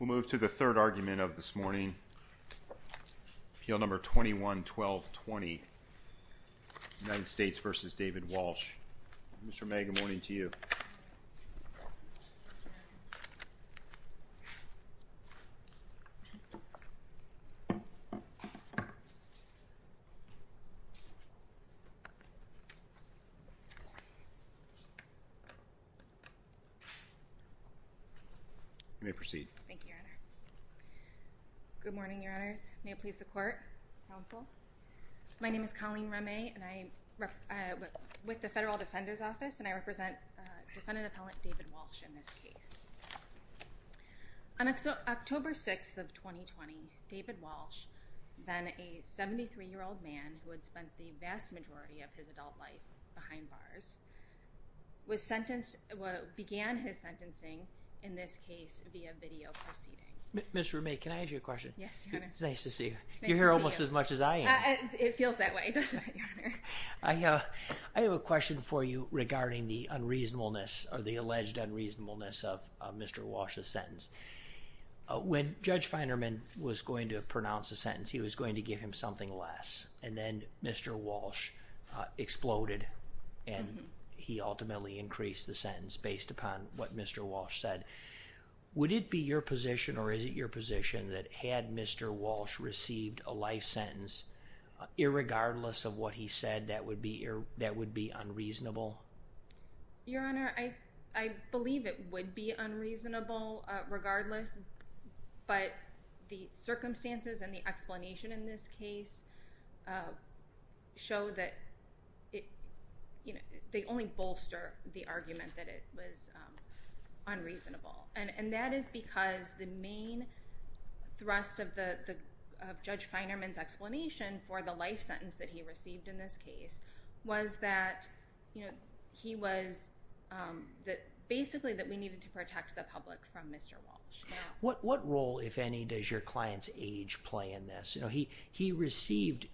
We'll move to the third argument of this morning, appeal number 21-12-20, United States v. David Walsh. Mr. May, good morning to you. Thank you, Your Honor. Good morning, Your Honors. May it please the Court, Counsel. My name is Colleen Remy and I'm with the Federal Defender's Office and I represent defendant David Walsh in this case. On October 6th of 2020, David Walsh, then a 73-year-old man who had spent the vast majority of his adult life behind bars, began his sentencing in this case via video proceeding. Ms. Remy, can I ask you a question? Yes, Your Honor. It's nice to see you. Nice to see you. You're here almost as much as I am. It feels that way, doesn't it, Your Honor? I have a question for you regarding the alleged unreasonableness of Mr. Walsh's sentence. When Judge Feinerman was going to pronounce the sentence, he was going to give him something less and then Mr. Walsh exploded and he ultimately increased the sentence based upon what Mr. Walsh said. Would it be your position or is it your position that had Mr. Walsh received a life sentence irregardless of what he said that would be unreasonable? Your Honor, I believe it would be unreasonable regardless, but the circumstances and the explanation in this case show that they only bolster the argument that it was unreasonable. And that is because the main thrust of Judge Feinerman's explanation for the life sentence that he received in this case was that he was... basically that we needed to protect the public from Mr. Walsh. What role, if any, does your client's age play in this? He received...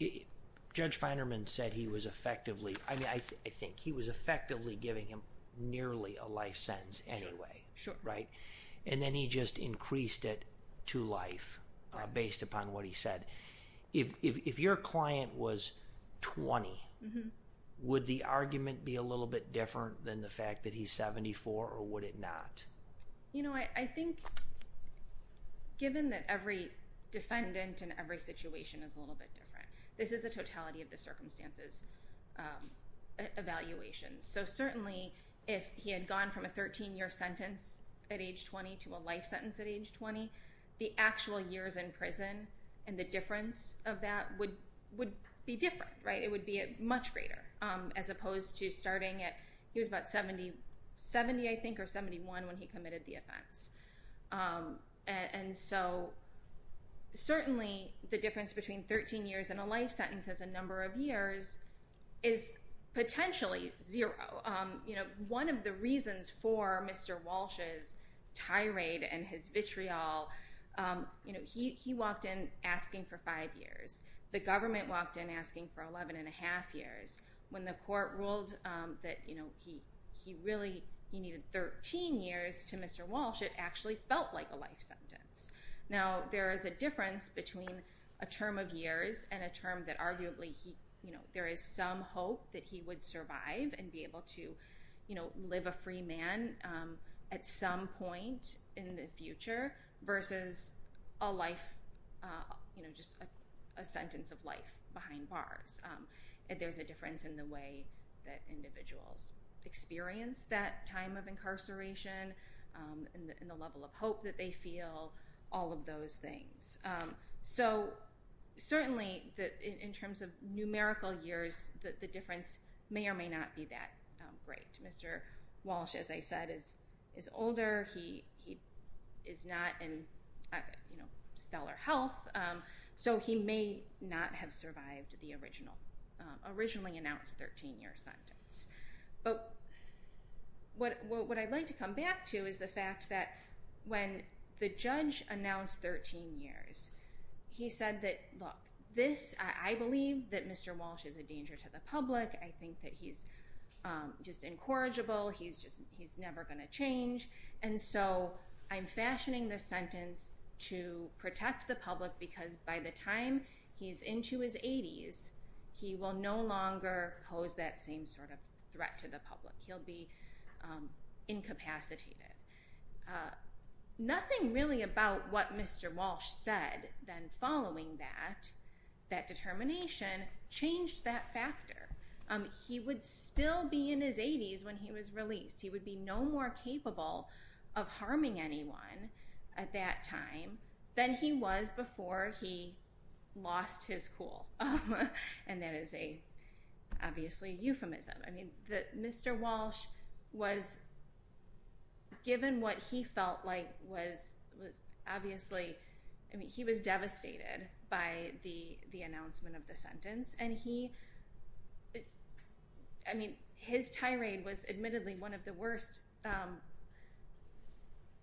Judge Feinerman said he was effectively... I mean, I think he was effectively giving him nearly a life sentence anyway. Right? And then he just increased it to life based upon what he said. If your client was 20, would the argument be a little bit different than the fact that he's 74 or would it not? You know, I think given that every defendant in every situation is a little bit different, this is a totality of the circumstances evaluation. So certainly if he had gone from a 13-year sentence at age 20 to a life sentence at age 20, the actual years in prison and the difference of that would be different, right? It would be much greater as opposed to starting at... He was about 70, I think, or 71 when he committed the offense. And so certainly the difference between 13 years and a life sentence as a number of years is potentially zero. One of the reasons for Mr. Walsh's tirade and his vitriol, he walked in asking for five years. The government walked in asking for 11 and a half years. When the court ruled that he really needed 13 years to Mr. Walsh, it actually felt like a life sentence. Now there is a difference between a term of years and a term that arguably there is some hope that he would survive and be able to live a free man at some point in the future versus a life, just a sentence of life behind bars. There's a difference in the way that individuals experience that time of incarceration and the level of hope that they feel, all of those things. So certainly in terms of numerical years, the difference may or may not be that great. Mr. Walsh, as I said, is older. He is not in stellar health, so he may not have survived the originally announced 13 year sentence. But what I'd like to come back to is the fact that when the judge announced 13 years, he said that, look, this, I believe that Mr. Walsh is a danger to the public. I think that he's just incorrigible. He's just, he's never going to change. And so I'm fashioning this sentence to protect the public because by the time he's into his threat to the public, he'll be incapacitated. Nothing really about what Mr. Walsh said then following that, that determination changed that factor. He would still be in his 80s when he was released. He would be no more capable of harming anyone at that time than he was before he lost his cool. And that is obviously a euphemism. Mr. Walsh was, given what he felt like was obviously, I mean, he was devastated by the announcement of the sentence. And he, I mean, his tirade was admittedly one of the worst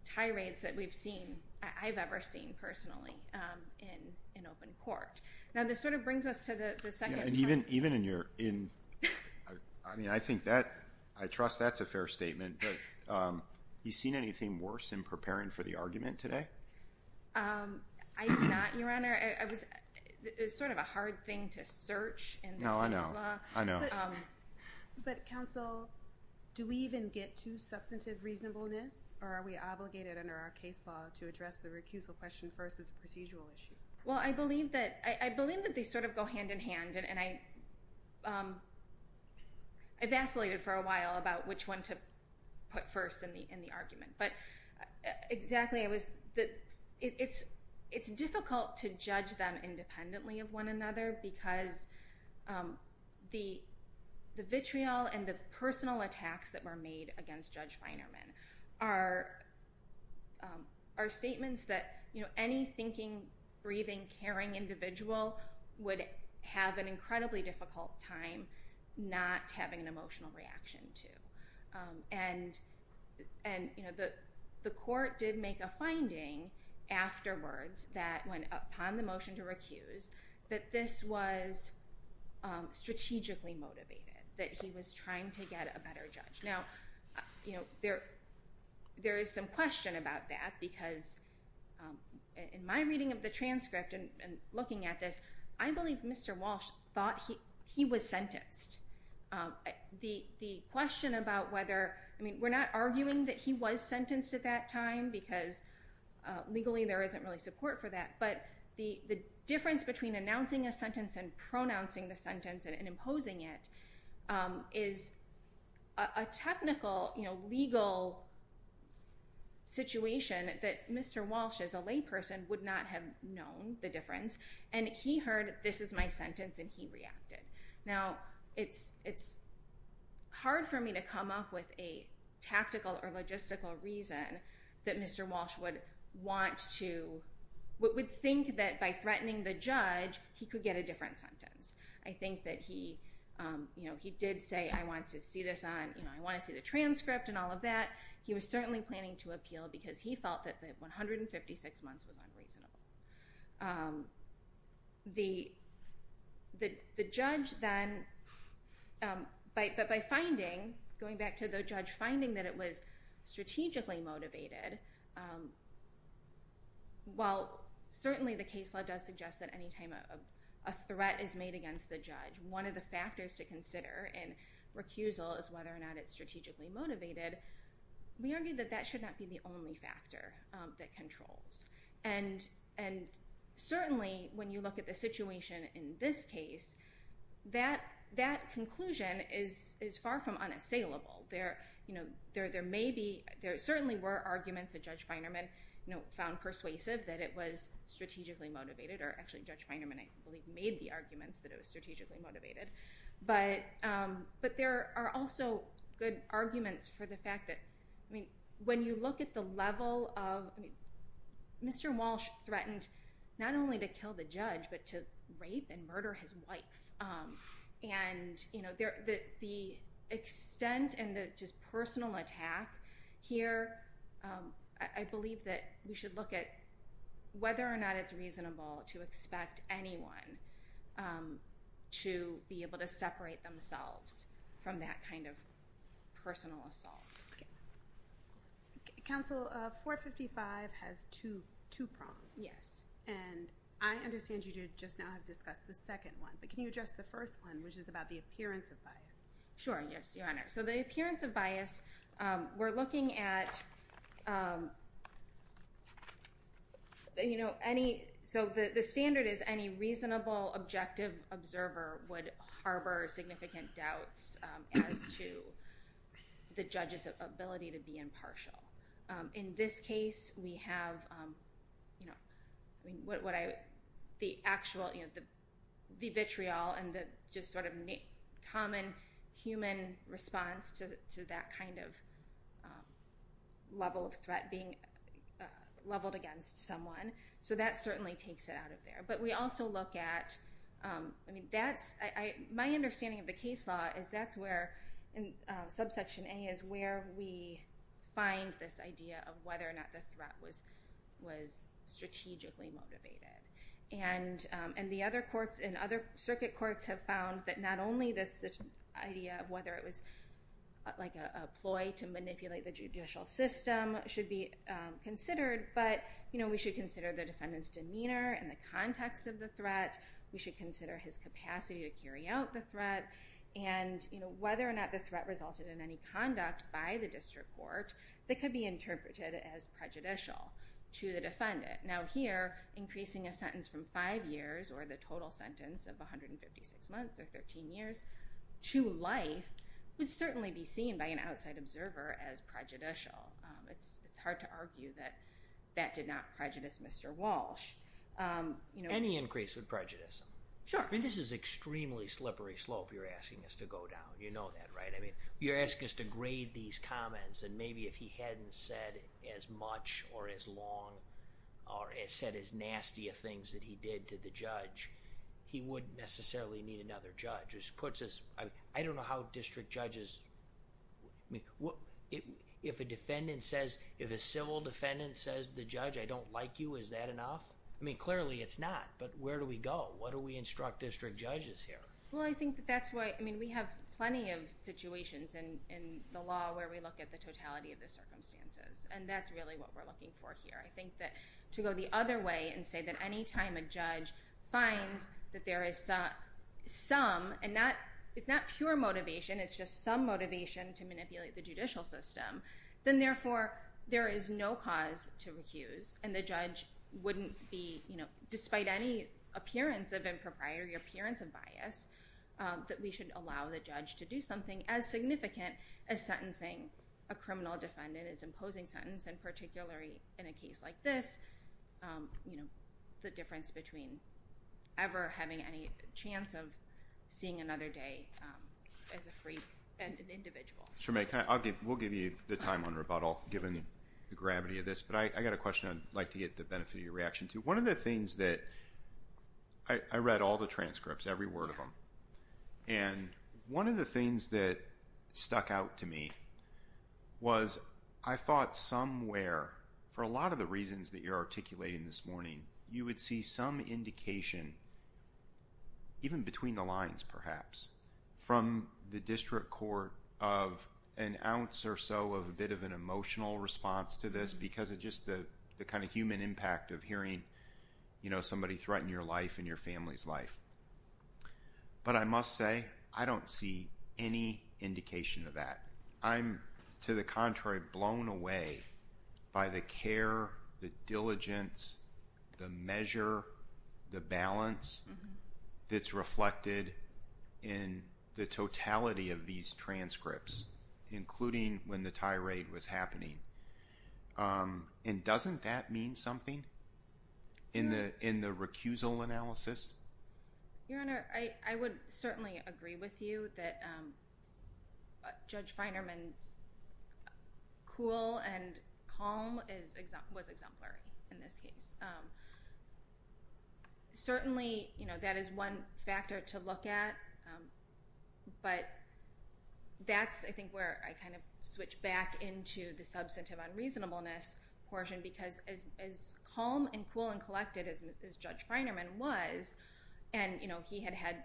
tirades that we've seen, I've ever seen personally in open court. Now, this sort of brings us to the second point. And even in your, I mean, I think that, I trust that's a fair statement, but you seen anything worse in preparing for the argument today? I did not, Your Honor. I was, it's sort of a hard thing to search in the case law. No, I know. I know. But counsel, do we even get to substantive reasonableness or are we obligated under our case law to address the recusal question first as a procedural issue? Well, I believe that they sort of go hand in hand. And I vacillated for a while about which one to put first in the argument. But exactly, it's difficult to judge them independently of one another because the vitriol and the personal attacks that were made against Judge Feinerman are statements that any thinking breathing, caring individual would have an incredibly difficult time not having an emotional reaction to. And the court did make a finding afterwards that when, upon the motion to recuse, that this was strategically motivated, that he was trying to get a better judge. Now, there is some question about that because in my reading of the transcript and looking at this, I believe Mr. Walsh thought he was sentenced. The question about whether, I mean, we're not arguing that he was sentenced at that time because legally there isn't really support for that. But the difference between announcing a sentence and pronouncing the sentence and imposing it is a technical, legal situation that Mr. Walsh, as a layperson, would not have known the difference. And he heard, this is my sentence, and he reacted. Now, it's hard for me to come up with a tactical or logistical reason that Mr. Walsh would want to, would think that by threatening the judge, he could get a different sentence. I think that he did say, I want to see this on, I want to see the transcript and all of that. He was certainly planning to appeal because he felt that the 156 months was unreasonable. The judge then, but by finding, going back to the judge finding that it was strategically motivated, while certainly the case law does suggest that any time a threat is made against the judge, one of the factors to consider in recusal is whether or not it's strategically motivated. We argue that that should not be the only factor that controls. And certainly, when you look at the situation in this case, that conclusion is far from unassailable. There may be, there certainly were arguments that Judge Feinerman found persuasive that it was strategically motivated, or actually Judge Feinerman, I believe, made the arguments that it was strategically motivated. But there are also good arguments for the fact that when you look at the level of, Mr. Walsh threatened not only to kill the judge, but to rape and murder his wife. And the extent and the just personal attack here, I believe that we should look at whether or not it's reasonable to expect anyone to be able to separate themselves from that kind of personal assault. Counsel, 455 has two prongs. Yes. And I understand you just now have discussed the second one. Can you address the first one, which is about the appearance of bias? Sure, yes, Your Honor. So the appearance of bias, we're looking at any, so the standard is any reasonable, objective observer would harbor significant doubts as to the judge's ability to be impartial. In this case, we have the actual, the vitriol and the just sort of common human response to that kind of level of threat being leveled against someone. So that certainly takes it out of there. But we also look at, I mean, that's, my understanding of the case law is that's in subsection A is where we find this idea of whether or not the threat was strategically motivated. And the other courts and other circuit courts have found that not only this idea of whether it was like a ploy to manipulate the judicial system should be considered, but we should consider the defendant's demeanor and the context of the threat. We should consider his capacity to carry out the threat. And whether or not the threat resulted in any conduct by the district court that could be interpreted as prejudicial to the defendant. Now here, increasing a sentence from five years or the total sentence of 156 months or 13 years to life would certainly be seen by an outside observer as prejudicial. It's hard to argue that that did not prejudice Mr. Walsh. Any increase would prejudice him. Sure. This is extremely slippery slope you're asking us to go down. You know that, right? I mean, you're asking us to grade these comments and maybe if he hadn't said as much or as long or said as nasty of things that he did to the judge, he wouldn't necessarily need another judge. This puts us, I don't know how district judges, I mean, if a defendant says, if a civil defendant says to the judge, I don't like you, is that enough? I mean, clearly it's not. But where do we go? What do we instruct district judges here? Well, I think that's why, I mean, we have plenty of situations in the law where we look at the totality of the circumstances and that's really what we're looking for here. I think that to go the other way and say that anytime a judge finds that there is some and not, it's not pure motivation, it's just some motivation to and the judge wouldn't be, you know, despite any appearance of impropriety, appearance of bias, that we should allow the judge to do something as significant as sentencing a criminal defendant as imposing sentence and particularly in a case like this, you know, the difference between ever having any chance of seeing another day as a free and an individual. Sure, may I, I'll give, we'll give you the time on rebuttal given the gravity of this, but I got a question I'd like to get the benefit of your reaction to. One of the things that, I read all the transcripts, every word of them, and one of the things that stuck out to me was I thought somewhere, for a lot of the reasons that you're articulating this morning, you would see some indication, even between the lines perhaps, from the district court of an emotional response to this because of just the kind of human impact of hearing, you know, somebody threaten your life and your family's life. But I must say, I don't see any indication of that. I'm, to the contrary, blown away by the care, the diligence, the measure, the balance that's reflected in the totality of these transcripts, including when the tirade was happening. And doesn't that mean something in the, in the recusal analysis? Your Honor, I, I would certainly agree with you that Judge Feinerman's cool and calm is, was exemplary in this case. Certainly, you know, that is one factor to look at, but that's, I think, where I kind of switch back into the substantive unreasonableness portion because as calm and cool and collected as Judge Feinerman was, and, you know, he had had,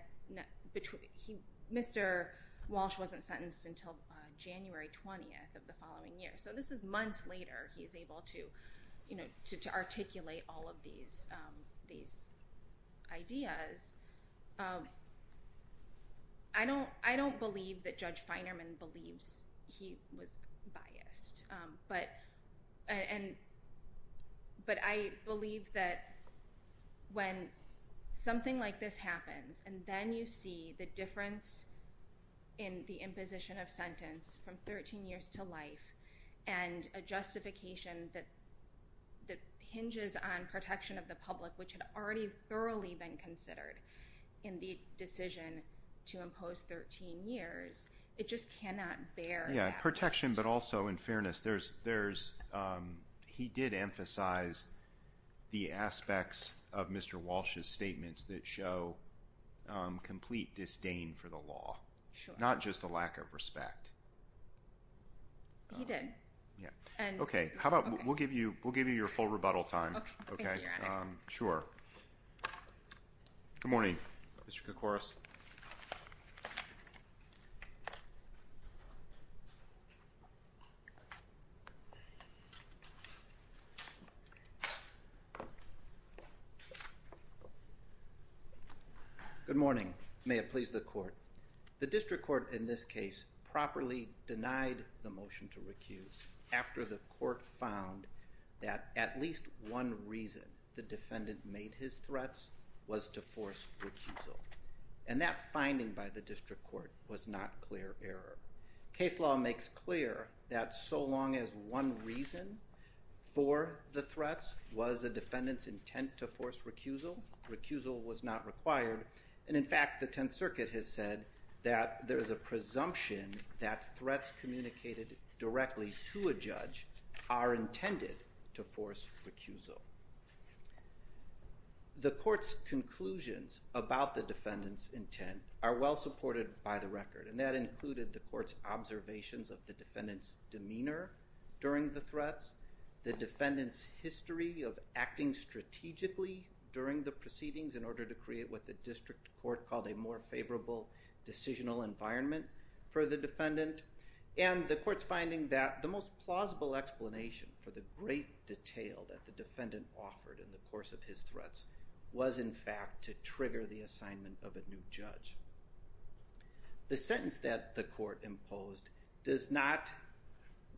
Mr. Walsh wasn't sentenced until January 20th of the following year. So this is months later he's able to, you know, to articulate all of these, these ideas. I don't, I don't believe that Judge Feinerman believes he was biased. But, and, but I believe that when something like this happens and then you see the difference in the imposition of sentence from 13 years to life and a justification that, that hinges on protection of the public, which had already thoroughly been considered in the decision to impose 13 years, it just cannot bear. Yeah, protection, but also in fairness, there's, there's, um, he did emphasize the aspects of Mr. Walsh's statements that show, um, complete disdain for the law, not just a lack of respect. He did. Yeah. And okay. How about we'll give you, we'll give you your full rebuttal time. Okay. Sure. Good morning. Mr. Koukouras. Good morning. May it please the court. The district court in this case properly denied the motion to recuse after the court found that at least one reason the defendant made his threats was to force recusal. And that finding by the district court was not clear error. Case law makes clear that so long as one reason for the threats was a defendant's intent to force recusal, recusal was not required. And in fact, the 10th circuit has said that there is a presumption that threats communicated directly to a judge are intended to force recusal. The court's conclusions about the defendant's intent are well supported by the observations of the defendant's demeanor during the threats, the defendant's history of acting strategically during the proceedings in order to create what the district court called a more favorable decisional environment for the defendant. And the court's finding that the most plausible explanation for the great detail that the defendant offered in the course of his threats was in fact to trigger the assignment of a new judge. The sentence that the court imposed does not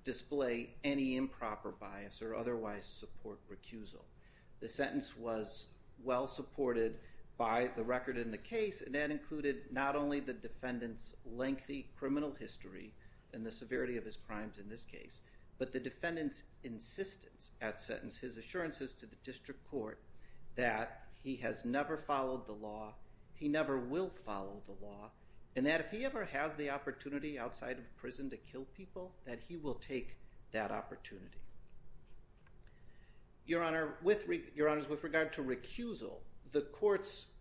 display any improper bias or otherwise support recusal. The sentence was well supported by the record in the case, and that included not only the defendant's lengthy criminal history and the severity of his crimes in this case, but the defendant's insistence at sentence, his assurances to the law, and that if he ever has the opportunity outside of prison to kill people, that he will take that opportunity. Your Honor, with regard to recusal, the court's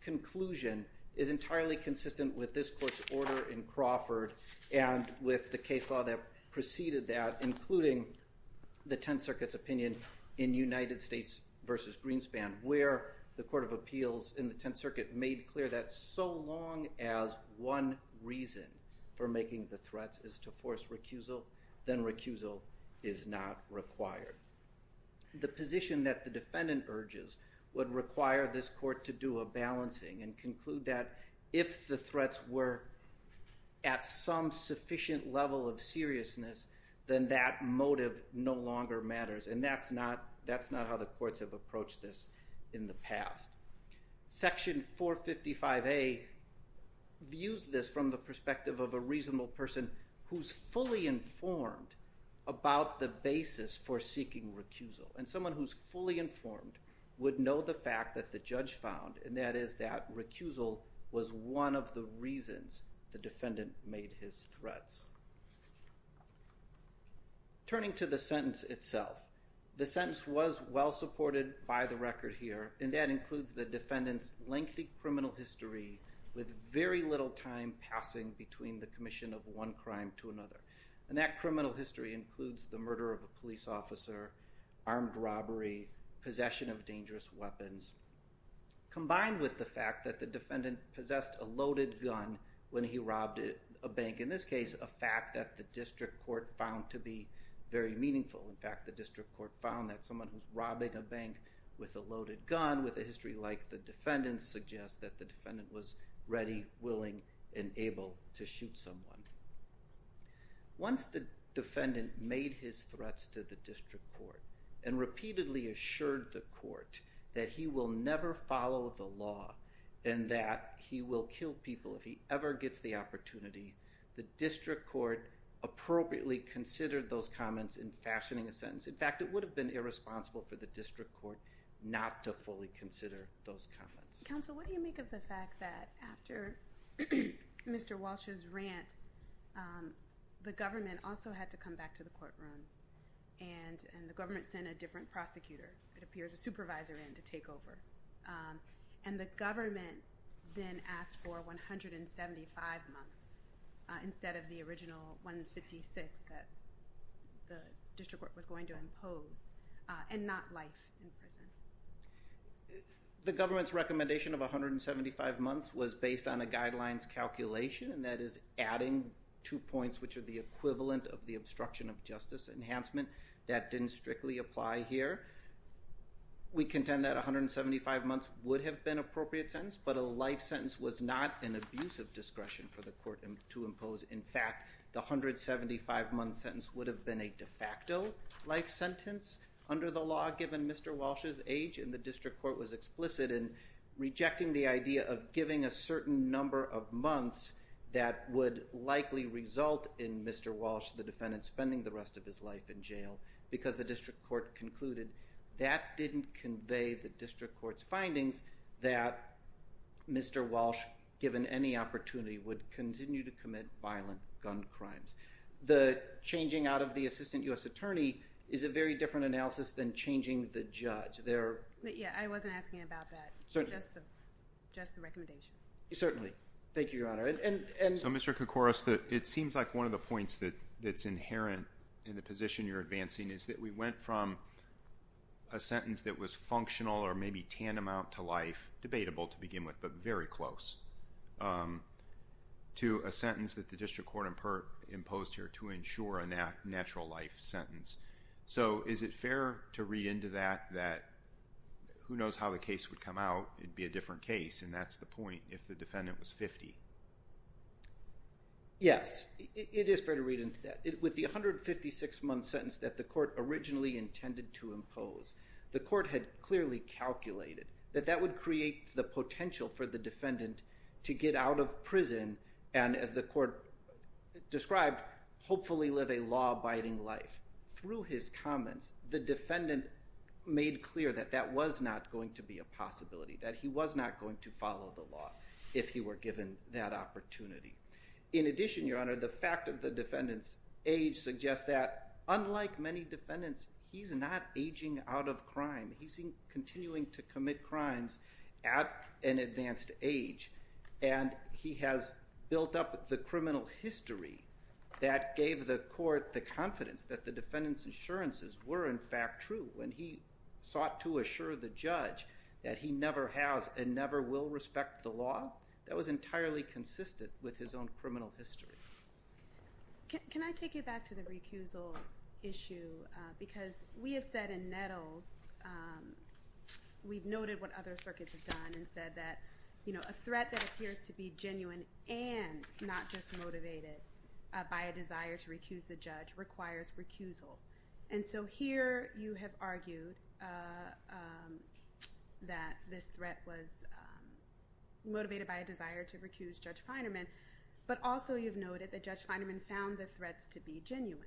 conclusion is entirely consistent with this court's order in Crawford and with the case law that preceded that, including the 10th circuit's opinion in United States versus Greenspan, where the law says that as long as one reason for making the threats is to force recusal, then recusal is not required. The position that the defendant urges would require this court to do a balancing and conclude that if the threats were at some sufficient level of seriousness, then that motive no longer matters. And that's not how the courts have approached this in the past. Section 455A views this from the perspective of a reasonable person who's fully informed about the basis for seeking recusal, and someone who's fully informed would know the fact that the judge found, and that is that recusal was one of the reasons the defendant made his threats. Turning to the sentence itself, the sentence was well supported by the record here, and that includes the defendant's lengthy criminal history with very little time passing between the commission of one crime to another. And that criminal history includes the murder of a police officer, armed robbery, possession of dangerous weapons, combined with the fact that the defendant possessed a loaded gun when he robbed a bank, in this case, a fact that the district court found to be very meaningful. In fact, the district court found that someone who's robbing a bank with a loaded gun, with a history like the defendant's, suggests that the defendant was ready, willing, and able to shoot someone. Once the defendant made his threats to the district court, and repeatedly assured the court that he will never follow the law, and that he will kill people if he ever gets the opportunity, the district court appropriately considered those comments in fashioning a sentence. In fact, it would have been irresponsible for the district court not to fully consider those comments. Counsel, what do you make of the fact that after Mr. Walsh's rant, the government also had to come back to the courtroom, and the government sent a different prosecutor, it appears, a supervisor in to take over. And the government then asked for 175 months instead of the original 156 that the district court was going to impose, and not life in prison. The government's recommendation of 175 months was based on a guidelines calculation, and that is adding two points which are the equivalent of the obstruction of justice enhancement that didn't strictly apply here. We contend that 175 months would have been an appropriate sentence, but a life sentence was not an abuse of discretion for the court to impose. In fact, the 175 month sentence would have been a de facto life sentence under the law given Mr. Walsh's age, and the district court was explicit in rejecting the idea of giving a certain number of months that would likely result in Mr. Walsh, the defendant, spending the rest of his life in jail, because the district court concluded that didn't convey the district court's findings that Mr. Walsh, given any opportunity, would continue to commit violent gun crimes. The changing out of the assistant U.S. attorney is a very different analysis than changing the judge. There... Yeah, I wasn't asking about that. Just the recommendation. Certainly. Thank you, Your Honor. And... So, Mr. Koukouros, it seems like one of the points that's inherent in the position you're advancing is that we went from a sentence that was functional or maybe tantamount to the district court imposed here to ensure a natural life sentence. So is it fair to read into that, that who knows how the case would come out, it'd be a different case, and that's the point if the defendant was 50? Yes, it is fair to read into that. With the 156 month sentence that the court originally intended to impose, the court had clearly calculated that that would create the potential for the defendant to get out of prison and, as the court described, hopefully live a law-abiding life. Through his comments, the defendant made clear that that was not going to be a possibility, that he was not going to follow the law if he were given that opportunity. In addition, Your Honor, the fact of the defendant's age suggests that, unlike many defendants, he's not aging out of crime. He's continuing to commit crimes at an advanced age, and he has built up the criminal history that gave the court the confidence that the defendant's assurances were, in fact, true when he sought to assure the judge that he never has and never will respect the law. That was entirely consistent with his own criminal history. Can I take you back to the recusal issue, because we have said in Nettles, we've noted what other circuits have done and said that, you know, a threat that appears to be genuine and not just motivated by a desire to recuse the judge requires recusal. And so here you have argued that this threat was motivated by a desire to recuse Judge Feinerman, but also you've noted that Judge Feinerman found the threats to be genuine.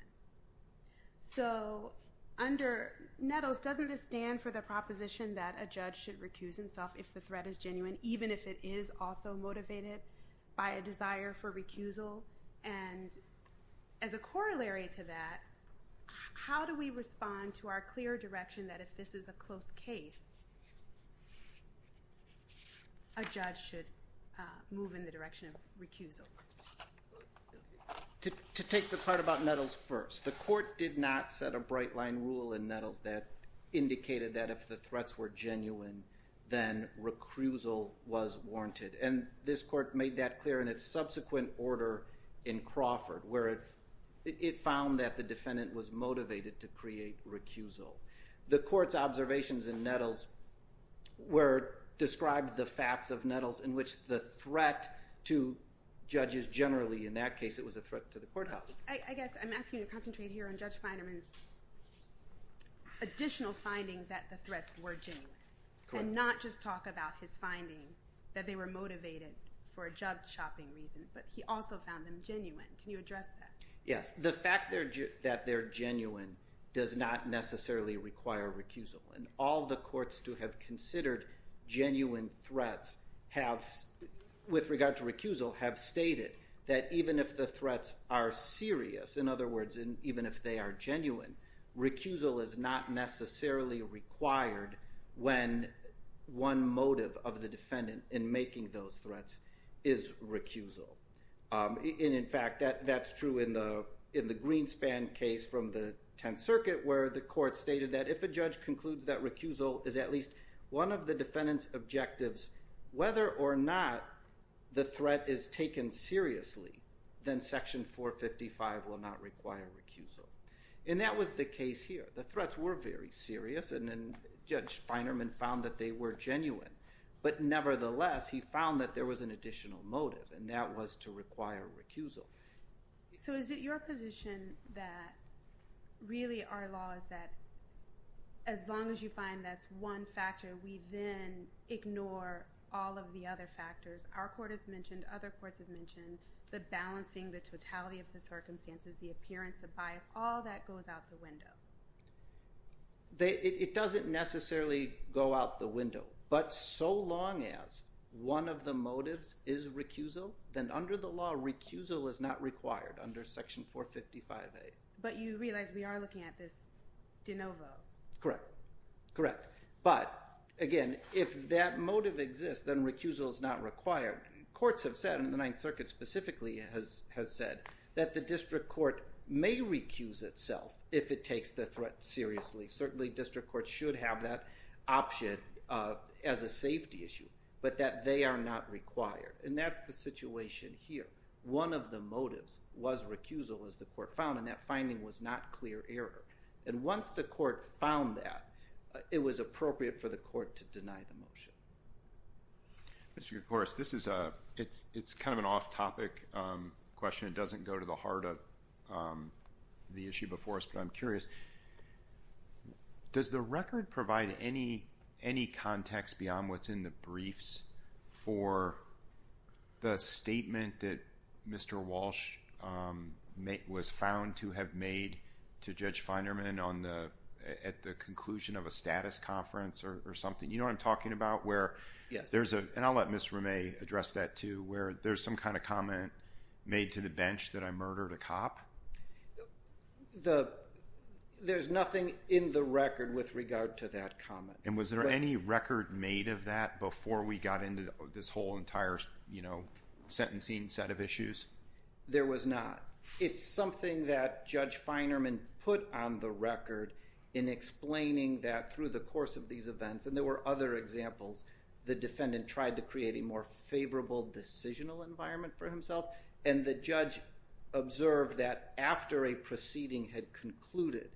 So under Nettles, doesn't this stand for the proposition that a judge should recuse himself if the threat is genuine, even if it is also motivated by a desire for recusal? And as a corollary to that, how do we respond to our clear direction that if this is a close case, a judge should move in the direction of recusal? To take the part about Nettles first, the court did not set a bright line rule in Nettles that indicated that if the threats were genuine, then recusal was warranted. And this court made that clear in its subsequent order in Crawford, where it found that the defendant was motivated to create recusal. The court's observations in Nettles were described the facts of Nettles in which the threat to judges generally in that case, it was a threat to the courthouse. I guess I'm asking you to concentrate here on Judge Feinerman's additional finding that the threats were genuine and not just talk about his finding that they were motivated for a job shopping reason, but he also found them genuine. Can you address that? Yes, the fact that they're genuine does not necessarily require recusal. And all the courts to have considered genuine threats with regard to recusal have stated that even if the threats are serious, in other words, even if they are genuine, recusal is not necessarily required when one motive of the defendant in making those threats is recusal. And in fact, that's true in the Greenspan case from the 10th Circuit, where the court stated that if a judge concludes that recusal is at least one of the defendant's objectives, whether or not the threat is taken seriously, then Section 455 will not require recusal. And that was the case here. The threats were very serious and Judge Feinerman found that they were genuine. But nevertheless, he found that there was an additional motive, and that was to require recusal. So is it your position that really our law is that as long as you find that's one factor, we then ignore all of the other factors? Our court has mentioned, other courts have mentioned, the balancing, the totality of the circumstances, the appearance of bias, all that goes out the window. It doesn't necessarily go out the window. But so long as one of the motives is recusal, then under the law, recusal is not required under Section 455A. But you realize we are looking at this de novo. Correct. Correct. But again, if that motive exists, then recusal is not required. Courts have said, and the 9th Circuit specifically has said, that the district court may recuse itself if it takes the threat seriously. Certainly district courts should have that option as a safety issue, but that they are not required. And that's the situation here. One of the motives was recusal, as the court found, and that finding was not clear error. And once the court found that, it was appropriate for the court to deny the motion. Mr. Kouros, this is a, it's kind of an off-topic question. It doesn't go to the heart of the issue before us, but I'm curious. Does the record provide any context beyond what's in the briefs for the statement that Mr. Walsh was found to have made to Judge Feinerman at the conclusion of a status conference or something? You know what I'm talking about? Yes. Where there's a, and I'll let Ms. Roumet address that too, where there's some kind of comment made to the bench that I murdered a cop? There's nothing in the record with regard to that comment. And was there any record made of that before we got into this whole entire, you know, sentencing set of issues? There was not. It's something that Judge Feinerman put on the record in explaining that through the course of these events, and there were other examples, the defendant tried to create a more favorable decisional environment for himself. And the judge observed that after a proceeding had concluded,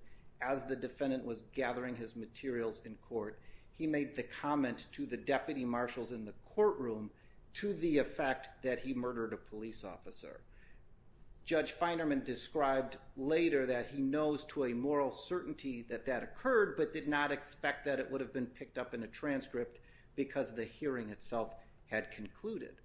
as the defendant was gathering his materials in court, he made the comment to the deputy marshals in the courtroom to the effect that he murdered a police officer. Judge Feinerman described later that he knows to a moral certainty that that occurred, but did not expect that it would have been picked up in a transcript because the hearing itself had concluded.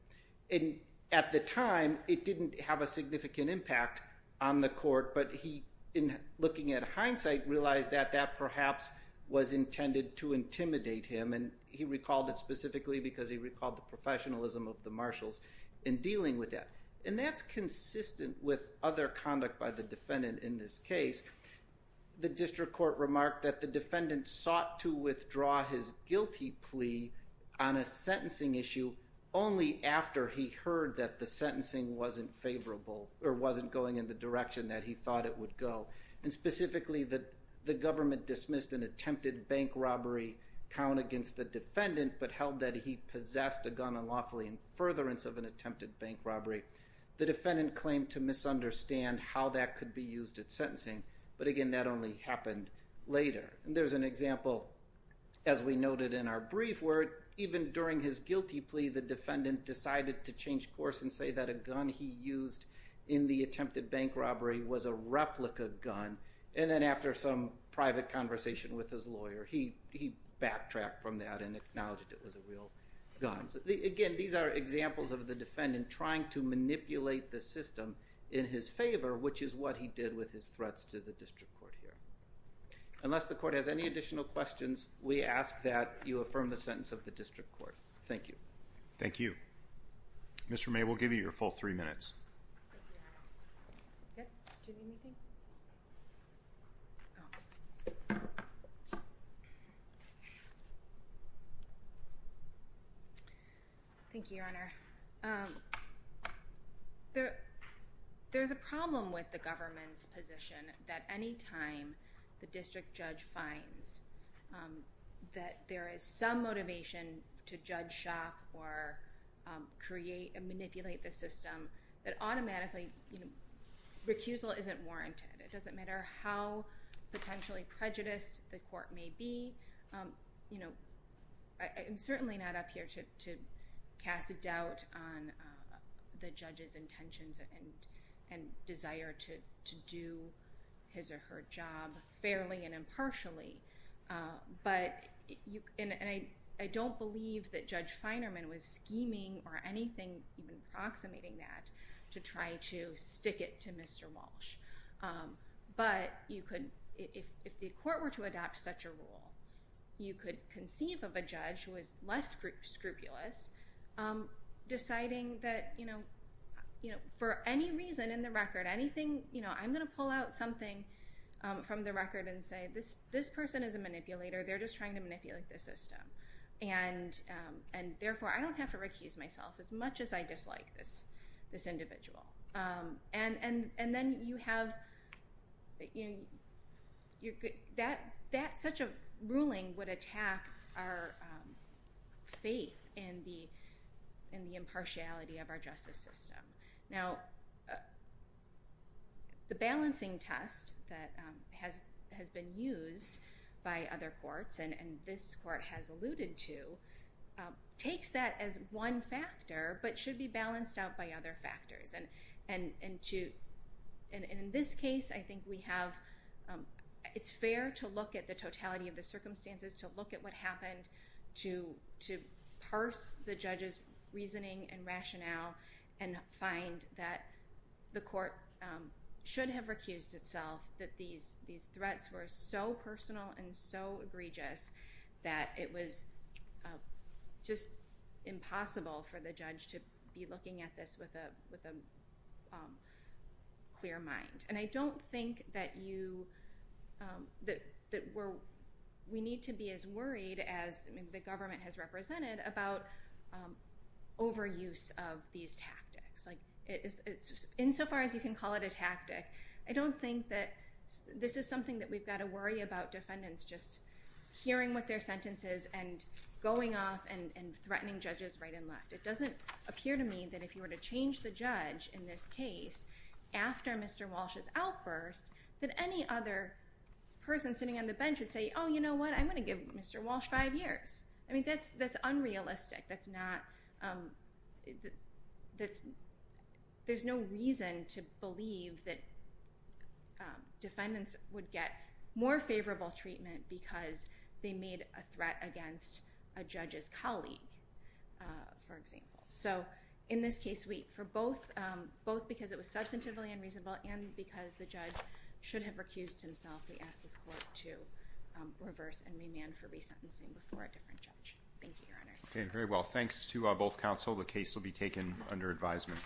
And at the time, it didn't have a significant impact on the court, but he, in looking at hindsight, realized that that perhaps was intended to intimidate him, and he recalled it specifically because he recalled the professionalism of the marshals in dealing with that. And that's consistent with other conduct by the defendant in this case. The district court remarked that the defendant sought to withdraw his guilty plea on a sentencing issue only after he heard that the sentencing wasn't favorable, or wasn't going in the direction that he thought it would go, and specifically that the government dismissed an attempted bank robbery count against the defendant, but held that he possessed a gun unlawfully in furtherance of an attempted bank robbery. The defendant claimed to misunderstand how that could be used at sentencing, but again, that only happened later. There's an example, as we noted in our brief, where even during his guilty plea, the defendant decided to change course and say that a gun he used in the attempted bank robbery was a replica gun, and then after some private conversation with his lawyer, he backtracked from that and acknowledged it was a real gun. So again, these are examples of the defendant trying to manipulate the system in his favor, which is what he did with his threats to the district court here. Unless the court has any additional questions, we ask that you affirm the sentence of the district court. Thank you. Thank you. Mr. May, we'll give you your full three minutes. Thank you, Your Honor. Did you need anything? Thank you, Your Honor. There's a problem with the government's position that any time the district judge finds that there is some motivation to judge shop or create and manipulate the system, that automatically recusal isn't warranted. It doesn't matter how potentially prejudiced the court may be. I'm certainly not up here to cast a doubt on the judge's intentions and desire to do his or her job fairly and impartially, and I don't believe that Judge Feinerman was scheming or anything, even approximating that, to try to stick it to Mr. Walsh. But if the court were to adopt such a rule, you could conceive of a judge who is less scrupulous deciding that for any reason in the record, I'm going to pull out something from the record and say, this person is a manipulator. They're just trying to manipulate the system. And therefore, I don't have to recuse myself as much as I dislike this individual. And then you have that such a ruling would attack our faith in the impartiality of our justice system. Now, the balancing test that has been used by other courts, and this court has alluded to, takes that as one factor, but should be balanced out by other factors. And in this case, I think we have, it's fair to look at the totality of the circumstances, to look at what happened, to parse the judge's reasoning and rationale, and find that the court should have recused itself, that these threats were so personal and so egregious that it was just impossible for the judge to be looking at this with a clear mind. And I don't think that we need to be as worried as the government has represented about overuse of these tactics. Insofar as you can call it a tactic, I don't think that this is something that we've got to worry about defendants just hearing what their sentence is and going off and threatening judges right and left. It doesn't appear to me that if you were to change the judge in this case after Mr. Walsh's outburst, that any other person sitting on the bench would say, oh, you know what, I'm going to give Mr. Walsh five years. I mean, that's unrealistic. There's no reason to believe that defendants would get more favorable treatment because they made a threat against a judge's colleague, for example. So in this case, both because it was substantively unreasonable and because the judge should have recused himself, we ask this court to reverse and remand for resentencing before a different judge. Thank you, Your Honors. Okay, very well. Thanks to both counsel. The case will be taken under advisement.